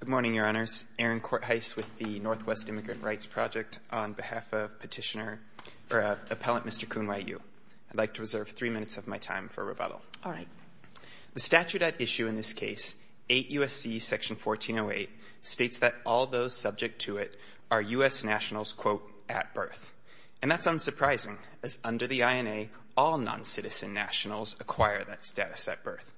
Good morning, Your Honors. Aaron Corthuis with the Northwest Immigrant Rights Project on behalf of Petitioner or Appellant Mr. Koonwaiyou. I'd like to reserve three minutes of my time for rebuttal. All right. The statute at issue in this case, 8 U.S.C. Section 1408, states that all those subject to it are U.S. nationals, quote, at birth. And that's unsurprising, as under the INA, all non-citizen nationals acquire that status at birth.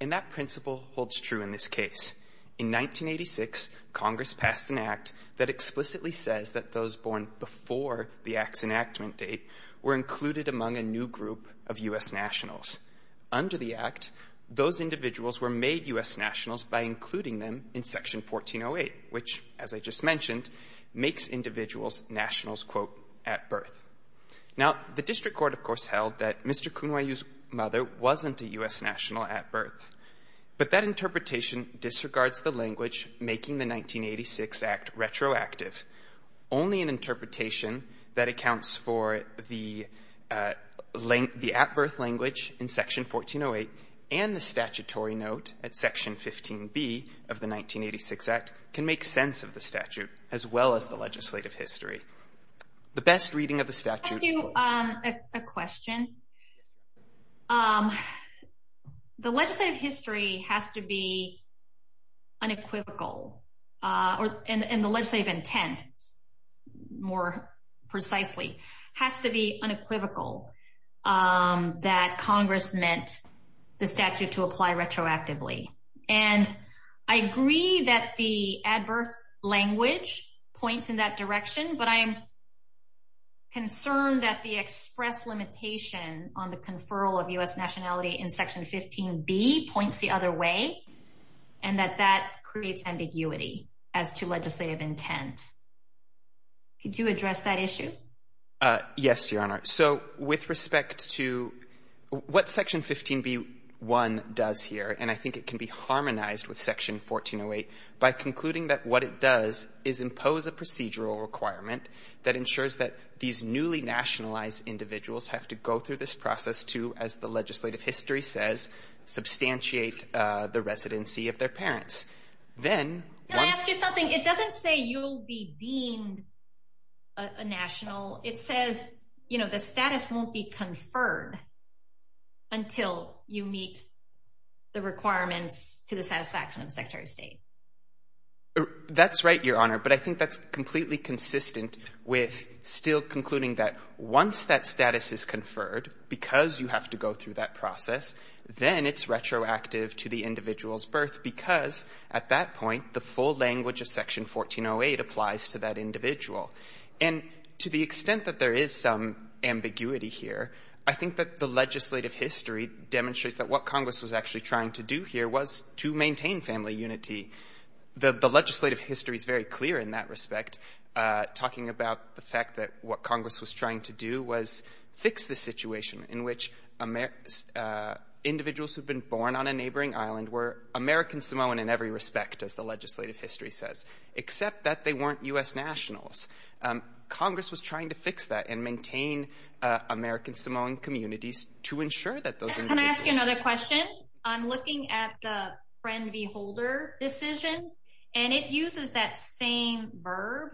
And that principle holds true in this case. In 1986, Congress passed an act that explicitly says that those born before the act's enactment date were included among a new group of U.S. nationals. Under the act, those individuals were made U.S. nationals by including them in Section 1408, which, as I just mentioned, makes individuals nationals, quote, at birth. Now, the district court, of course, held that Mr. Koonwaiyou's mother wasn't a U.S. national at birth. But that interpretation disregards the language making the 1986 act retroactive. Only an interpretation that accounts for the at-birth language in Section 1408 and the statutory note at Section 15B of the 1986 act can make sense of the statute, as well as the legislative history. The best reading of the statute is, quote... I'll ask you a question. The legislative history has to be unequivocal in the legislative intent, more precisely, has to be unequivocal that Congress meant the statute to apply retroactively. And I agree that the at-birth language points in that direction, but I am concerned that the express limitation on the conferral of U.S. nationality in Section 15B points the other way and that that creates ambiguity as to legislative intent. Could you address that issue? Yes, Your Honor. So with respect to what Section 15B-1 does here, and I think it can be harmonized with Section 1408 by concluding that what it does is impose a procedural requirement that ensures that these newly nationalized individuals have to go through this process to, as the legislative history says, substantiate the residency of their parents. Then... Can I ask you something? It doesn't say you'll be deemed a national. It says, you know, the status won't be conferred until you meet the requirements to the satisfaction of Secretary of State. That's right, Your Honor, but I think that's completely consistent with still concluding that once that status is conferred, because you have to go through that process, then it's retroactive to the individual's birth because, at that point, the full language of Section 1408 applies to that individual. And to the extent that there is some ambiguity here, I think that the legislative history demonstrates that what Congress was actually trying to do here was to maintain family unity. The legislative history is very clear in that respect, talking about the fact that what Congress was trying to do was fix the situation in which individuals who've been born on a neighboring island were American Samoan in every respect, as the legislative history says, except that they weren't U.S. nationals. Congress was trying to fix that and maintain American Samoan communities to ensure that those... Can I ask you another question? I'm looking at the Friend v. Holder decision, and it uses that same verb.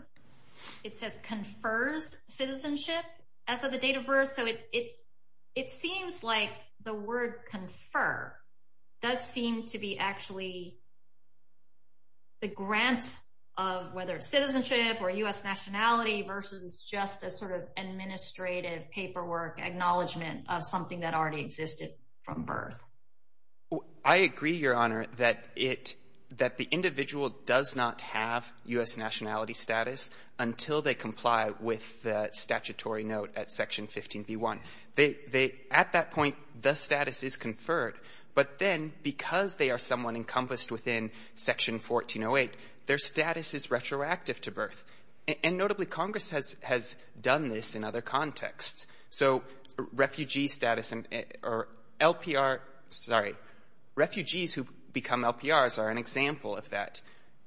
It says, confers citizenship as of the date of birth. So it seems like the word confer does seem to be actually the grants of whether it's citizenship or U.S. nationality versus just a sort of administrative paperwork acknowledgement of something that already existed from birth. I agree, Your Honor, that it — that the individual does not have U.S. nationality status until they comply with the statutory note at Section 15b-1. They — they — at that point, the status is conferred. But then, because they are someone encompassed within Section 1408, their status is retroactive to birth. And notably, Congress has — has done this in other contexts. So refugee status or LPR — sorry. Refugees who become LPRs are an example of that.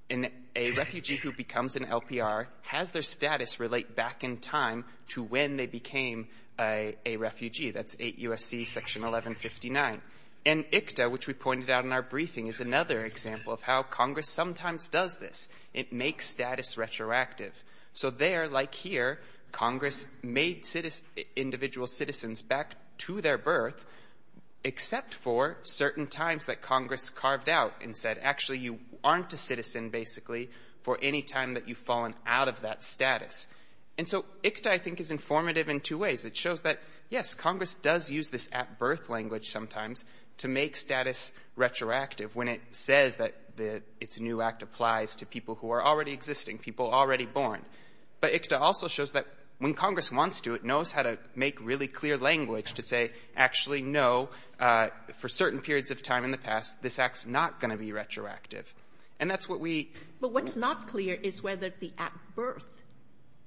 And a refugee who becomes an LPR has their status relate back in time to when they became a refugee. That's 8 U.S.C. Section 1159. And ICTA, which we pointed out in our briefing, is another example of how Congress sometimes does this. It makes status retroactive. So there, like here, Congress made individual citizens back to their birth except for certain times that Congress carved out and said, actually, you aren't a citizen, basically, for any time that you've fallen out of that status. And so ICTA, I think, is informative in two ways. It shows that, yes, Congress does use this at-birth language sometimes to make status retroactive when it says that its new act applies to people who are already existing, people already born. But ICTA also shows that when Congress wants to, it knows how to make really clear language to say, actually, no, for certain periods of time in the past, this act's not going to be retroactive. And that's what we — Kagan. But what's not clear is whether the at-birth,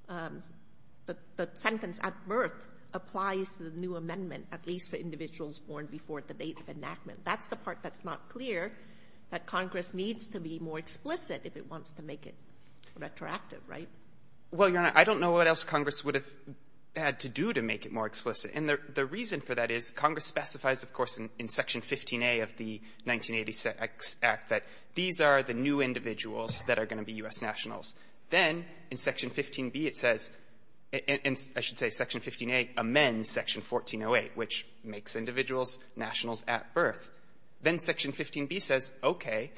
the sentence at-birth applies to the new amendment, at least for individuals born before the date of enactment. That's the part that's not clear, that Congress needs to be more explicit if it wants to make it retroactive, right? Well, Your Honor, I don't know what else Congress would have had to do to make it more explicit. And the reason for that is Congress specifies, of course, in Section 15a of the 1980s Act that these are the new individuals that are going to be U.S. nationals. Then, in Section 15b, it says — I should say Section 15a amends Section 1408, which makes individuals nationals at birth. Then Section 15b says, okay,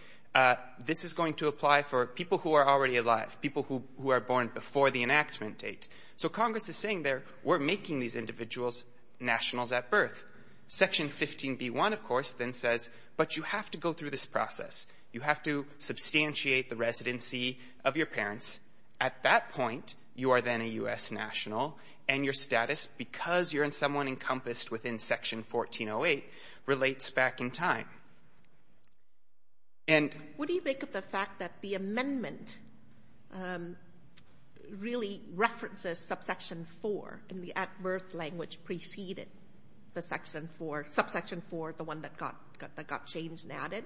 this is going to apply for people who are already alive, people who are born before the enactment date. So Congress is saying there, we're making these individuals nationals at birth. Section 15b-1, of course, then says, but you have to go through this process. You have to substantiate the residency of your parents. At that point, you are then a U.S. national, and your status, because you're in someone who is unencompassed within Section 1408, relates back in time. And — What do you make of the fact that the amendment really references Subsection 4 in the at-birth language preceded the Section 4 — Subsection 4, the one that got — that got changed and added?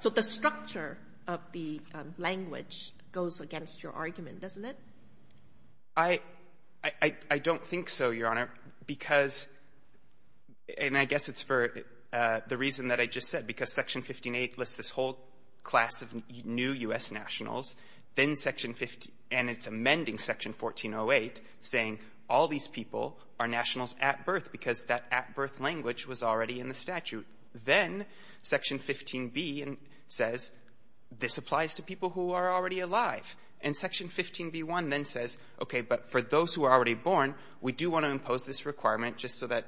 So the structure of the language goes against your argument, doesn't it? I — I don't think so, Your Honor, because — and I guess it's for the reason that I just said, because Section 15a lists this whole class of new U.S. nationals, then Section 15 — and it's amending Section 1408, saying all these people are nationals at birth because that at-birth language was already in the statute. Then Section 15b says, this applies to people who are already alive. And Section 15b-1 then says, okay, but for those who are already born, we do want to impose this requirement just so that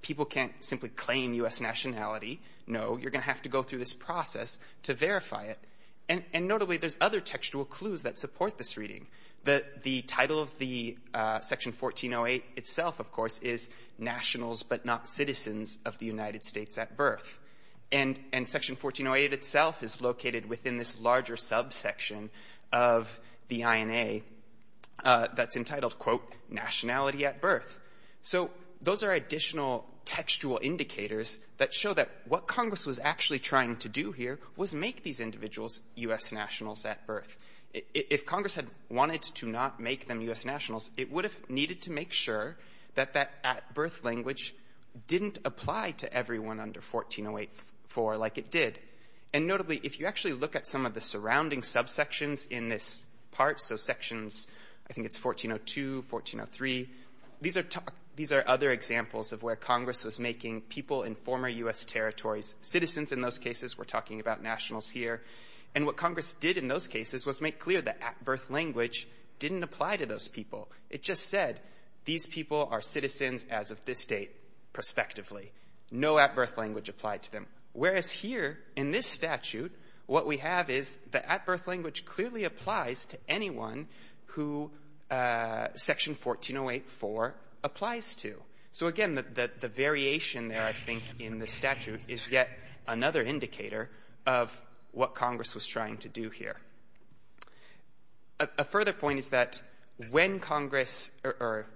people can't simply claim U.S. nationality. No, you're going to have to go through this process to verify it. And notably, there's other textual clues that support this reading, that the title of the Section 1408 itself, of course, is nationals, but not citizens of the United States at birth. And — and Section 1408 itself is located within this larger subsection of the INA that's entitled, quote, nationality at birth. So those are additional textual indicators that show that what Congress was actually trying to do here was make these individuals U.S. nationals at birth. If Congress had wanted to not make them U.S. nationals, it would have needed to make sure that that at-birth language didn't apply to everyone under 1408-4 like it did. And notably, if you actually look at some of the surrounding subsections in this part, so Sections — I think it's 1402, 1403, these are — these are other examples of where Congress was making people in former U.S. territories citizens in those cases. We're talking about nationals here. And what Congress did in those cases was make clear that at-birth language didn't apply to those people. It just said, these people are citizens as of this date, prospectively. No at-birth language applied to them. Whereas here in this statute, what we have is the at-birth language clearly applies to anyone who Section 1408-4 applies to. So, again, the — the variation there, I think, in the statute is yet another indicator of what Congress was trying to do here. A further point is that when Congress — or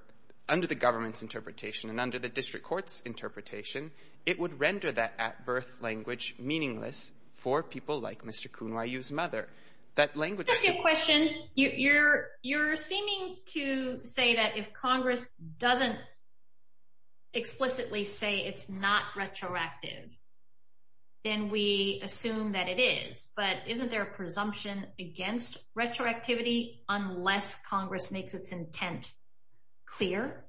under the government's interpretation and under the district court's interpretation, it would render that at-birth language meaningless for people like Mr. Kuhnwayu's mother. That language — Just a question. You're — you're seeming to say that if Congress doesn't explicitly say it's not retroactive, then we assume that it is. But isn't there a presumption against retroactivity unless Congress makes its intent clear?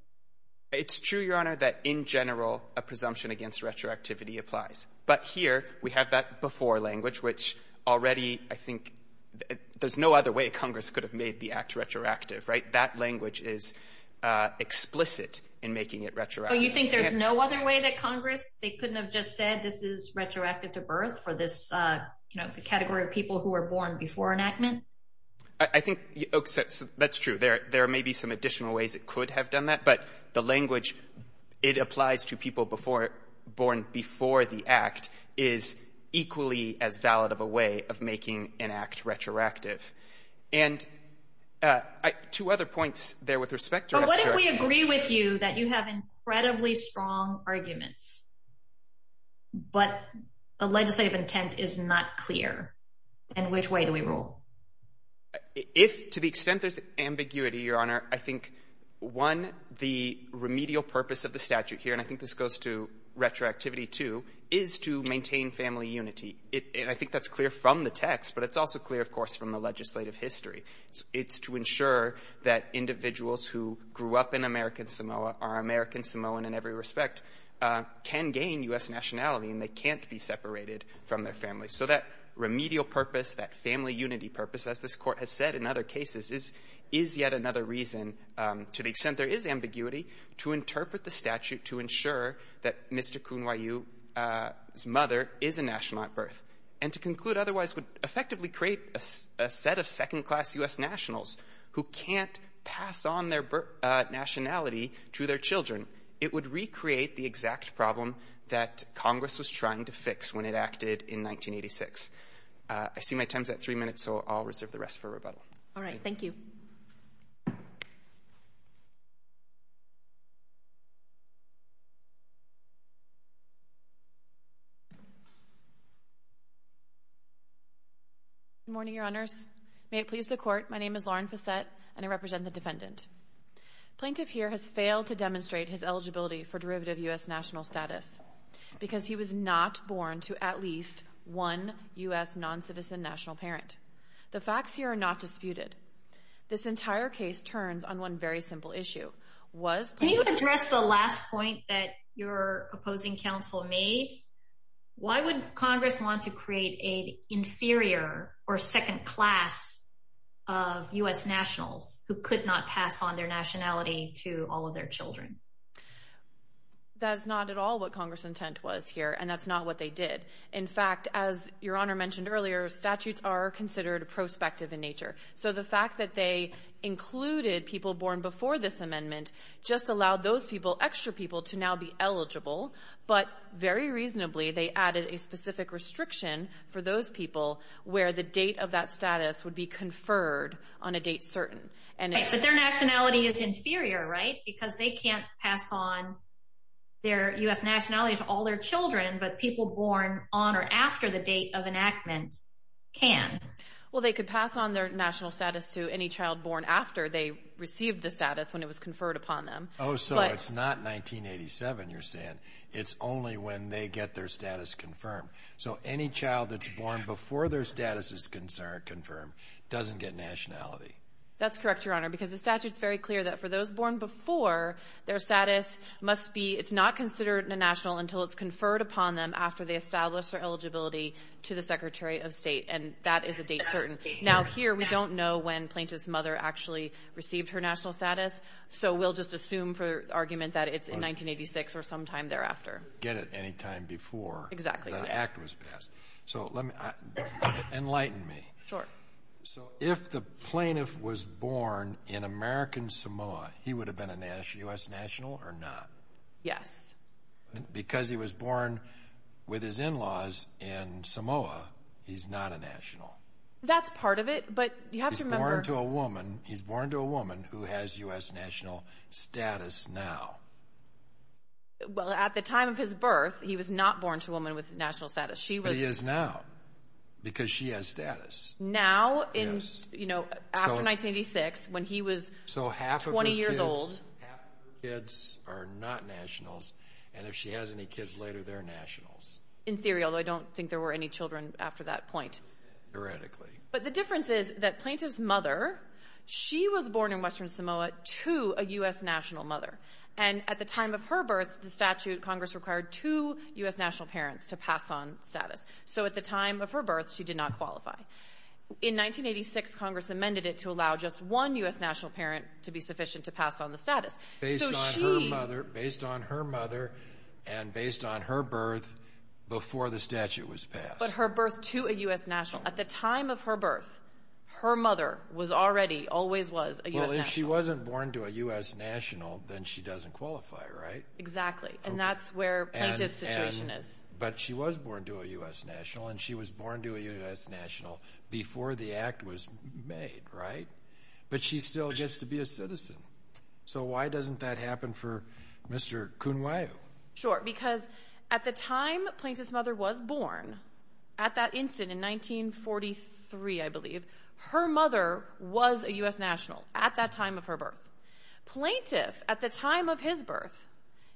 It's true, Your Honor, that in general, a presumption against retroactivity applies. But here, we have that before language, which already, I think — there's no other way Congress could have made the act retroactive, right? That language is explicit in making it retroactive. Oh, you think there's no other way that Congress — they couldn't have just said, this is retroactive to birth for this, you know, the category of people who were born before enactment? I think — that's true. There may be some additional ways it could have done that. But the language, it applies to people before — born before the act is equally as valid of a way of making an act retroactive. And two other points there with respect to — What if we agree with you that you have incredibly strong arguments, but the legislative intent is not clear? In which way do we rule? If to the extent there's ambiguity, Your Honor, I think, one, the remedial purpose of the statute here — and I think this goes to retroactivity, too — is to maintain family unity. And I think that's clear from the text, but it's also clear, of course, from the legislative history. It's to ensure that individuals who grew up in American Samoa, are American Samoan in every respect, can gain U.S. nationality, and they can't be separated from their family. So that remedial purpose, that family unity purpose, as this Court has said in other cases, is yet another reason, to the extent there is ambiguity, to interpret the statute to ensure that Mr. Kunwayu's mother is a national at birth. And to conclude otherwise would effectively create a set of second-class U.S. nationals who can't pass on their nationality to their children. It would recreate the exact problem that Congress was trying to fix when it acted in 1986. I see my time's at three minutes, so I'll reserve the rest for rebuttal. All right. Thank you. Good morning, Your Honors. May it please the Court, my name is Lauren Fassette, and I represent the defendant. Plaintiff here has failed to demonstrate his eligibility for derivative U.S. national status because he was not born to at least one U.S. non-citizen national parent. The facts here are not disputed. This entire case turns on one very simple issue. Can you address the last point that your opposing counsel made? Why would Congress want to create an inferior or second class of U.S. nationals who could not pass on their nationality to all of their children? That's not at all what Congress' intent was here, and that's not what they did. In fact, as Your Honor mentioned earlier, statutes are considered prospective in nature. So the fact that they included people born before this amendment just allowed those people, to now be eligible, but very reasonably they added a specific restriction for those people where the date of that status would be conferred on a date certain. Right, but their nationality is inferior, right? Because they can't pass on their U.S. nationality to all their children, but people born on or after the date of enactment can. Well they could pass on their national status to any child born after they received the status when it was conferred upon them. Oh, so it's not 1987 you're saying. It's only when they get their status confirmed. So any child that's born before their status is confirmed doesn't get nationality. That's correct, Your Honor, because the statute's very clear that for those born before, their status must be, it's not considered a national until it's conferred upon them after they establish their eligibility to the Secretary of State, and that is a date certain. Now here we don't know when Plaintiff's mother actually received her national status, so we'll just assume for argument that it's in 1986 or sometime thereafter. Get it any time before the act was passed. So let me, enlighten me. So if the Plaintiff was born in American Samoa, he would have been a U.S. national or not? Yes. Because he was born with his in-laws in Samoa, he's not a national. That's part of it, but you have to remember. He's born to a woman who has U.S. national status now. Well, at the time of his birth, he was not born to a woman with national status. She was. But he is now, because she has status. Now in, you know, after 1986, when he was 20 years old. So half of her kids are not nationals, and if she has any kids later, they're nationals. In theory, although I don't think there were any children after that point. Theoretically. But the difference is that Plaintiff's mother, she was born in Western Samoa to a U.S. national mother. And at the time of her birth, the statute, Congress required two U.S. national parents to pass on status. So at the time of her birth, she did not qualify. In 1986, Congress amended it to allow just one U.S. national parent to be sufficient to pass on the status. Based on her mother, and based on her birth before the statute was passed. But her birth to a U.S. national. At the time of her birth, her mother was already, always was, a U.S. national. Well, if she wasn't born to a U.S. national, then she doesn't qualify, right? Exactly. And that's where Plaintiff's situation is. But she was born to a U.S. national, and she was born to a U.S. national before the act was made, right? But she still gets to be a citizen. So why doesn't that happen for Mr. Kunwayu? Sure, because at the time Plaintiff's mother was born, at that instant in 1943, I believe, her mother was a U.S. national at that time of her birth. Plaintiff, at the time of his birth,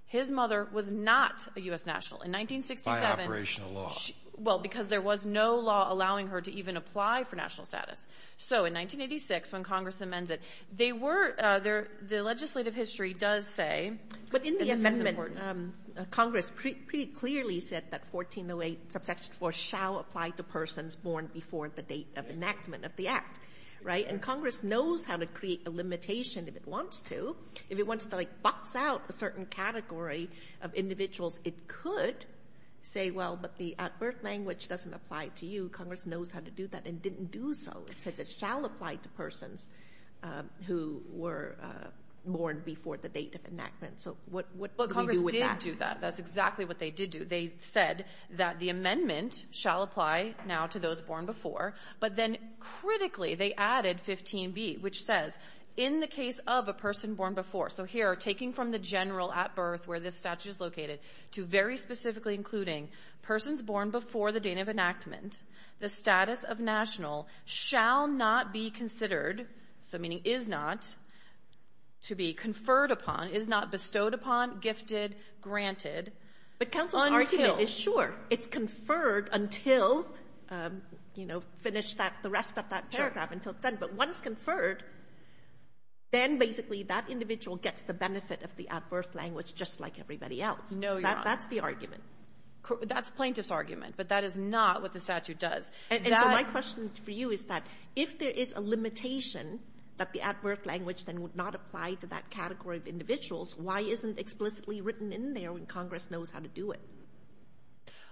his mother was not a U.S. national. In 1967, she... By operational law. Well, because there was no law allowing her to even apply for national status. So in 1986, when Congress amends it, they were, the legislative history does say... But in the amendment, Congress pretty clearly said that 1408, subsection 4, shall apply to persons born before the date of enactment of the act, right? And Congress knows how to create a limitation if it wants to. If it wants to, like, box out a certain category of individuals, it could say, well, but the at-birth language doesn't apply to you. Congress knows how to do that and didn't do so. It said it shall apply to persons who were born before the date of enactment. But Congress did do that. That's exactly what they did do. They said that the amendment shall apply now to those born before, but then critically, they added 15b, which says, in the case of a person born before, so here, taking from the general at birth where this statute is located, to very specifically including persons born before the date of enactment, the status of national shall not be considered, so meaning is not to be conferred upon, is not bestowed upon, gifted, granted, until But counsel's argument is, sure, it's conferred until, you know, finish that, the rest of that paragraph until then, but once conferred, then basically that individual gets the benefit of the at-birth language just like everybody else. No, Your Honor. That's the argument. That's plaintiff's argument, but that is not what the statute does. And so my question for you is that if there is a limitation that the at-birth language then would not apply to that category of individuals, why isn't it explicitly written in there when Congress knows how to do it?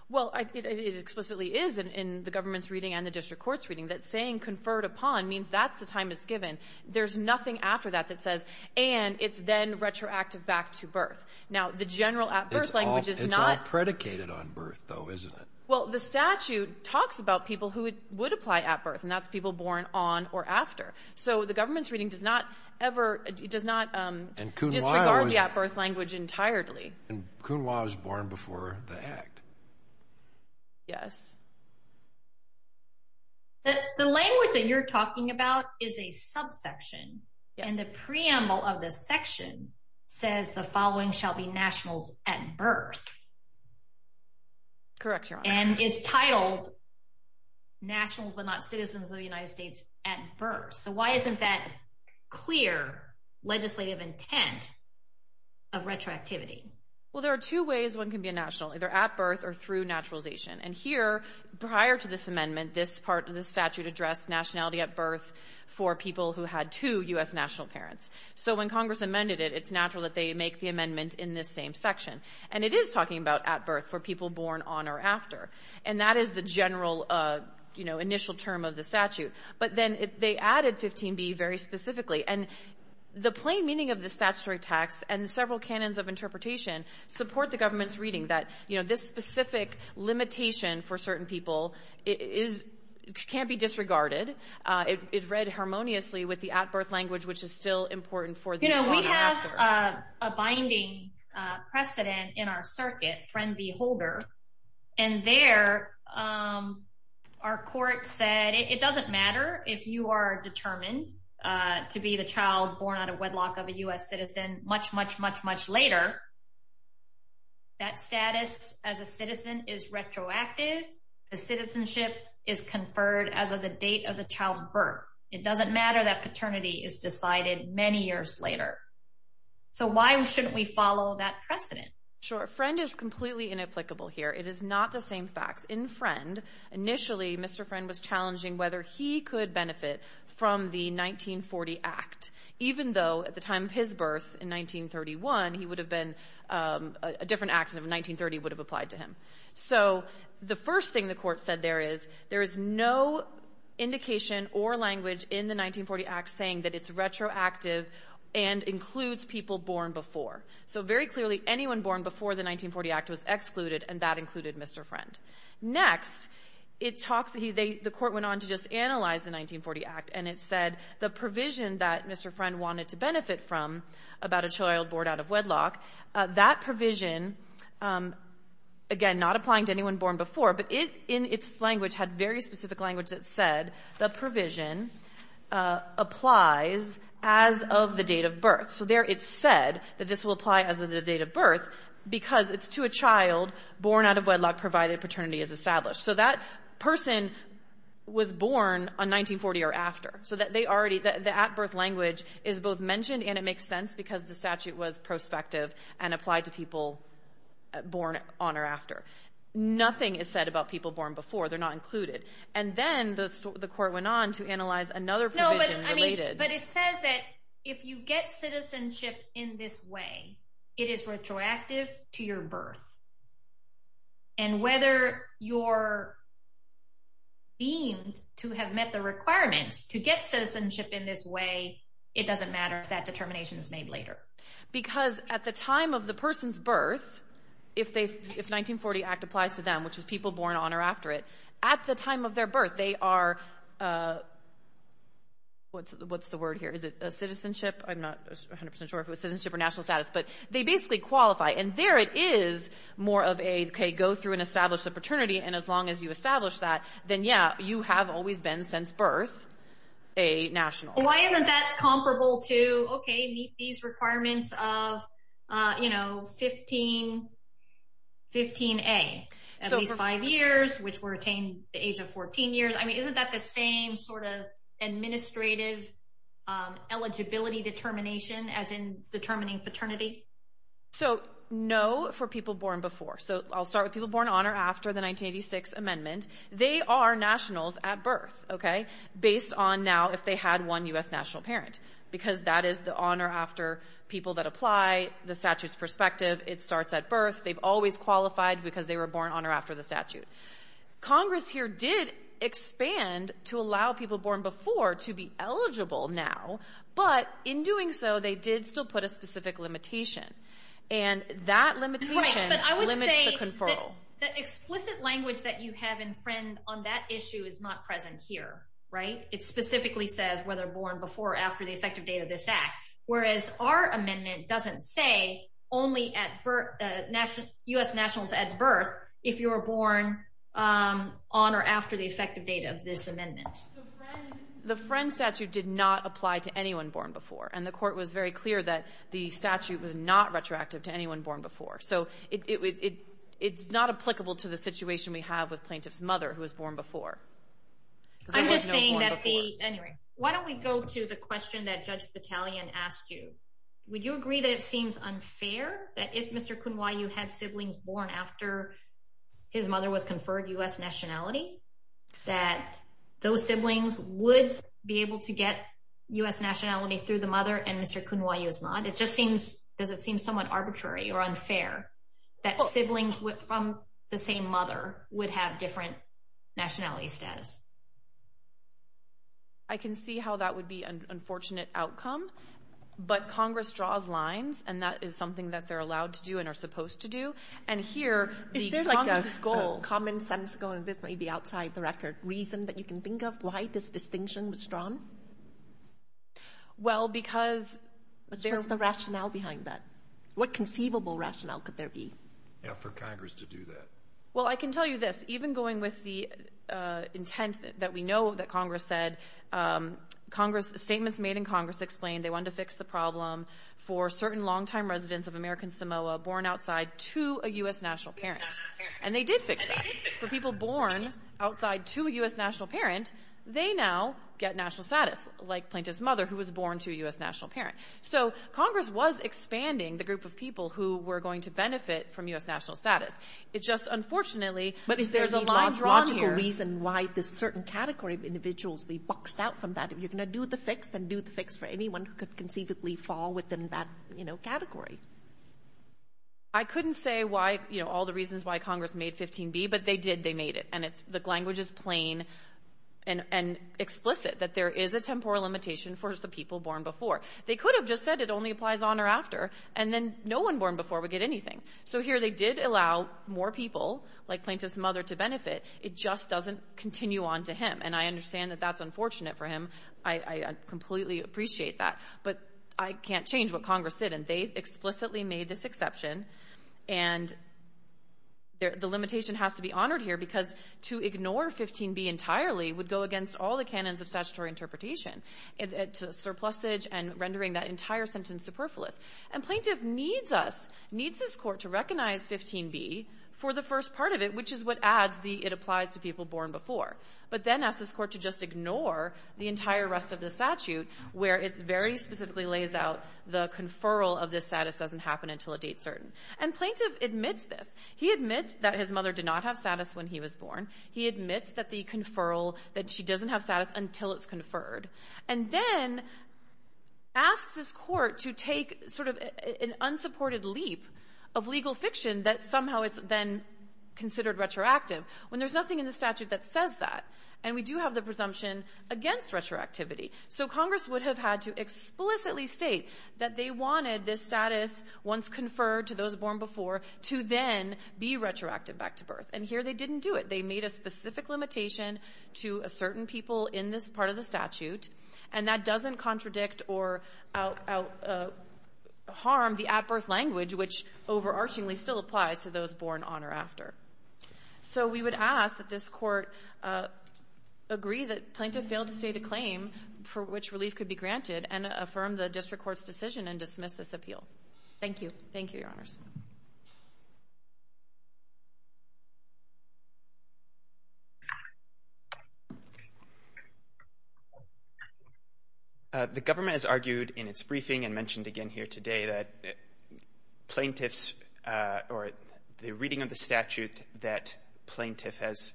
Well, it explicitly is in the government's reading and the district court's reading, that saying conferred upon means that's the time it's given. There's nothing after that that says, and it's then retroactive back to birth. Now the general at-birth language is not... It's all predicated on birth, though, isn't it? Well, the statute talks about people who would apply at-birth, and that's people born on or after. So the government's reading does not ever, it does not disregard the at-birth language entirely. And Kuhn-Waugh was born before the act. Yes. The language that you're talking about is a subsection, and the preamble of the section says the following shall be nationals at birth. Correct, Your Honor. And is titled nationals but not citizens of the United States at birth. So why isn't that clear legislative intent of retroactivity? Well, there are two ways one can be a national, either at birth or through naturalization. And here, prior to this amendment, this part of the statute addressed nationality at birth for people who had two U.S. national parents. So when Congress amended it, it's natural that they make the amendment in this same section. And it is talking about at birth for people born on or after. And that is the general, you know, initial term of the statute. But then they added 15B very specifically. And the plain meaning of the statutory text and several canons of interpretation support the government's reading that, you know, this specific limitation for certain people is, can't be disregarded. It read harmoniously with the at-birth language, which is still important for the born after. We have a binding precedent in our circuit, Friend v. Holder. And there, our court said it doesn't matter if you are determined to be the child born out of wedlock of a U.S. citizen much, much, much, much later. That status as a citizen is retroactive. The citizenship is conferred as of the date of the child's birth. It doesn't matter that paternity is decided many years later. So why shouldn't we follow that precedent? Sure. Friend is completely inapplicable here. It is not the same facts. In Friend, initially, Mr. Friend was challenging whether he could benefit from the 1940 Act, even though at the time of his birth in 1931, he would have been, a different act of 1930 would have applied to him. So the first thing the court said there is, there is no indication or language in the 1940 Act saying that it's retroactive and includes people born before. So very clearly, anyone born before the 1940 Act was excluded, and that included Mr. Friend. Next, the court went on to just analyze the 1940 Act, and it said the provision that Mr. Friend wanted to benefit from about a child born out of wedlock. That provision, again, not applying to anyone born before, but it, in its language, had very specific language that said the provision applies as of the date of birth. So there it said that this will apply as of the date of birth because it's to a child born out of wedlock provided paternity is established. So that person was born on 1940 or after. So that they already, the at-birth language is both mentioned and it makes sense because the statute was prospective and applied to people born on or after. Nothing is said about people born before. They're not included. And then the court went on to analyze another provision related. But it says that if you get citizenship in this way, it is retroactive to your birth. And whether you're deemed to have met the requirements to get citizenship in this way, it doesn't matter if that determination is made later. Because at the time of the person's birth, if 1940 Act applies to them, which is people born on or after it, at the time of their birth, they are, what's the word here? Is it a citizenship? I'm not 100% sure if it was citizenship or national status, but they basically qualify. And there it is more of a, okay, go through and establish the paternity. And as long as you establish that, then yeah, you have always been, since birth, a national. Why isn't that comparable to, okay, meet these requirements of 15A, at least five years, which were attained at the age of 14 years? I mean, isn't that the same sort of administrative eligibility determination as in determining paternity? So no for people born before. So I'll start with people born on or after the 1986 amendment. They are nationals at birth. Okay? Based on now, if they had one U.S. national parent. Because that is the on or after people that apply, the statute's perspective. It starts at birth. They've always qualified because they were born on or after the statute. Congress here did expand to allow people born before to be eligible now. But in doing so, they did still put a specific limitation. And that limitation limits the conferral. The explicit language that you have in Friend on that issue is not present here. Right? It specifically says whether born before or after the effective date of this act. Whereas our amendment doesn't say only U.S. nationals at birth if you are born on or after the effective date of this amendment. The Friend statute did not apply to anyone born before. And the court was very clear that the statute was not retroactive to anyone born before. So it's not applicable to the situation we have with plaintiff's mother who was born before. I'm just saying that the, anyway, why don't we go to the question that Judge Battalion asked you. Would you agree that it seems unfair that if Mr. Kunwayu had siblings born after his mother was conferred U.S. nationality, that those siblings would be able to get U.S. nationality through the mother and Mr. Kunwayu is not? It just seems, does it seem somewhat arbitrary or unfair that siblings from the same mother would have different nationality status? I can see how that would be an unfortunate outcome. But Congress draws lines and that is something that they're allowed to do and are supposed to do. And here, the Congress' goal... Is there like a common sense goal, and this may be outside the record, reason that you can think of why this distinction was drawn? Well, because... What's the rationale behind that? What conceivable rationale could there be? Yeah, for Congress to do that. Well, I can tell you this. Even going with the intent that we know that Congress said, Congress, statements made in Congress explained they wanted to fix the problem for certain long-time residents of American Samoa born outside to a U.S. national parent. And they did fix that. For people born outside to a U.S. national parent, they now get national status, like Plaintiff's mother, who was born to a U.S. national parent. So Congress was expanding the group of people who were going to benefit from U.S. national status. It's just, unfortunately, there's a line drawn here. But is there any logical reason why this certain category of individuals be boxed out from that? If you're going to do the fix, then do the fix for anyone who could conceivably fall within that category. I couldn't say why, you know, all the reasons why Congress made 15B, but they did. They made it. And the language is plain and explicit that there is a temporal limitation for the people born before. They could have just said it only applies on or after, and then no one born before would get anything. So here they did allow more people, like Plaintiff's mother, to benefit. It just doesn't continue on to him. And I understand that that's unfortunate for him. I completely appreciate that. But I can't change what Congress did. And they explicitly made this exception. And the limitation has to be honored here, because to ignore 15B entirely would go against all the canons of statutory interpretation, surplusage and rendering that entire sentence superfluous. And Plaintiff needs us, needs this Court to recognize 15B for the first part of it, which is what adds the it applies to people born before, but then asks this Court to just ignore the entire rest of the statute, where it very specifically lays out the conferral of this status doesn't happen until a date certain. And Plaintiff admits this. He admits that his mother did not have status when he was born. He admits that the conferral, that she doesn't have status until it's conferred. And then asks this Court to take sort of an unsupported leap of legal fiction that somehow it's then considered retroactive, when there's nothing in the statute that says that. And we do have the presumption against retroactivity. So Congress would have had to explicitly state that they wanted this status, once conferred to those born before, to then be retroactive back to birth. And here they didn't do it. They made a specific limitation to a certain people in this part of the statute. And that doesn't contradict or harm the at-birth language, which overarchingly still applies to those born on or after. So we would ask that this Court agree that Plaintiff failed to state a claim for which relief could be granted, and affirm the District Court's decision and dismiss this appeal. Thank you. Thank you, Your Honors. The government has argued in its briefing and mentioned again here today that Plaintiffs or the reading of the statute that Plaintiff has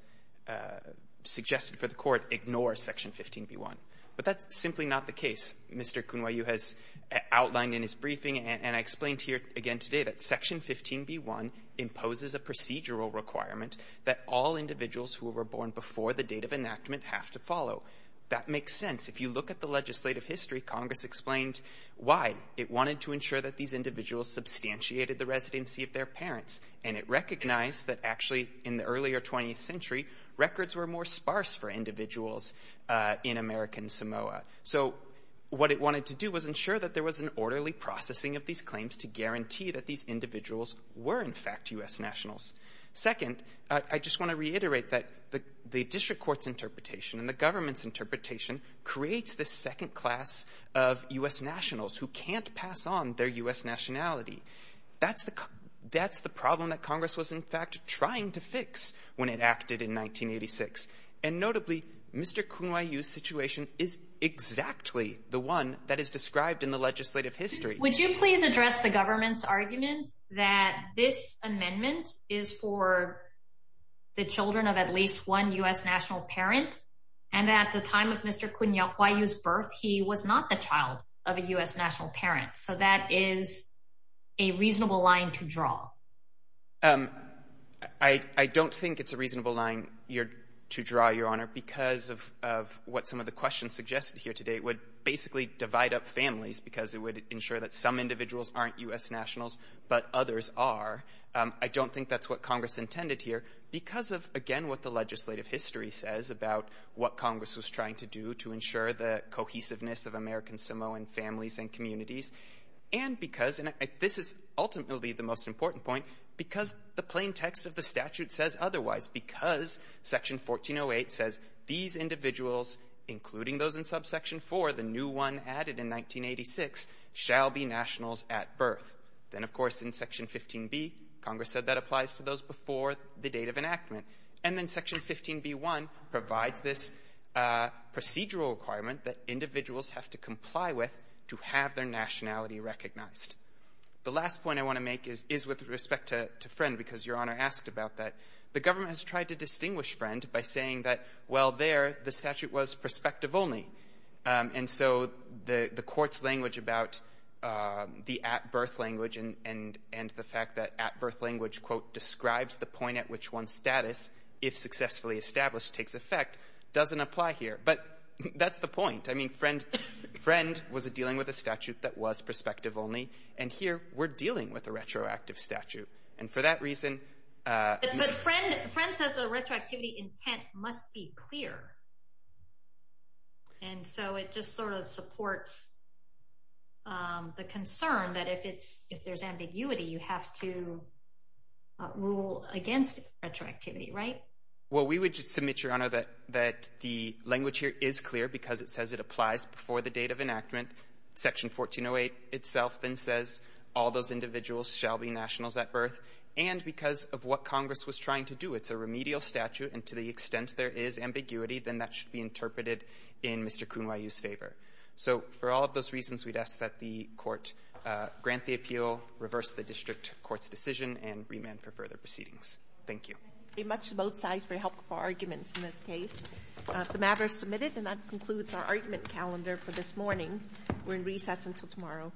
suggested for the Court ignores Section 15b-1. But that's simply not the case. Mr. Kunwayu has outlined in his briefing and I explained here again today that Section 15b-1 imposes a procedural requirement that all individuals who were born before the date of enactment have to follow. That makes sense. If you look at the legislative history, Congress explained why. It wanted to ensure that these individuals substantiated the residency of their parents. And it recognized that actually in the earlier 20th century, records were more sparse for individuals in American Samoa. So what it wanted to do was ensure that there was an orderly processing of these claims to guarantee that these individuals were in fact U.S. nationals. Second, I just want to reiterate that the District Court's interpretation and the government's interpretation creates this second class of U.S. nationals who can't pass on their U.S. nationality. That's the problem that Congress was in fact trying to fix when it acted in 1986. And notably, Mr. Kunwayu's situation is exactly the one that is described in the legislative history. Would you please address the government's argument that this amendment is for the children of at least one U.S. national parent, and that at the time of Mr. Kunwayu's birth, he was not the child of a U.S. national parent? So that is a reasonable line to draw. I don't think it's a reasonable line to draw, Your Honor, because of what some of the questions suggested here today would basically divide up families because it would ensure that some individuals aren't U.S. nationals, but others are. I don't think that's what Congress intended here. Because of, again, what the legislative history says about what Congress was trying to do to ensure the cohesiveness of American Samoan families and communities, and because — and this is ultimately the most important point — because the plain text of the statute says otherwise, because Section 1408 says these individuals, including those in Subsection 4, the new one added in 1986, shall be nationals at birth. Then, of course, in Section 15B, Congress said that applies to those before the date of enactment. And then Section 15B-1 provides this procedural requirement that individuals have to comply with to have their nationality recognized. The last point I want to make is with respect to Friend, because Your Honor asked about that. The government has tried to distinguish Friend by saying that, well, there, the statute was prospective only. And so the Court's language about the at-birth language and the fact that at-birth language, quote, describes the point at which one's status, if successfully established, takes effect, doesn't apply here. But that's the point. I mean, Friend was dealing with a statute that was prospective only, and here, we're dealing with a retroactive statute. And for that reason — But Friend says the retroactivity intent must be clear. And so it just sort of supports the concern that if it's — if there's ambiguity, you have to rule against retroactivity, right? Well, we would submit, Your Honor, that the language here is clear because it says it applies before the date of enactment. Section 1408 itself then says all those individuals shall be nationals at birth. And because of what Congress was trying to do, it's a remedial statute, and to the then that should be interpreted in Mr. Kunwayu's favor. So for all of those reasons, we'd ask that the Court grant the appeal, reverse the District Court's decision, and remand for further proceedings. Thank you. Thank you very much to both sides for your help with our arguments in this case. The matter is submitted, and that concludes our argument calendar for this morning. We're in recess until tomorrow.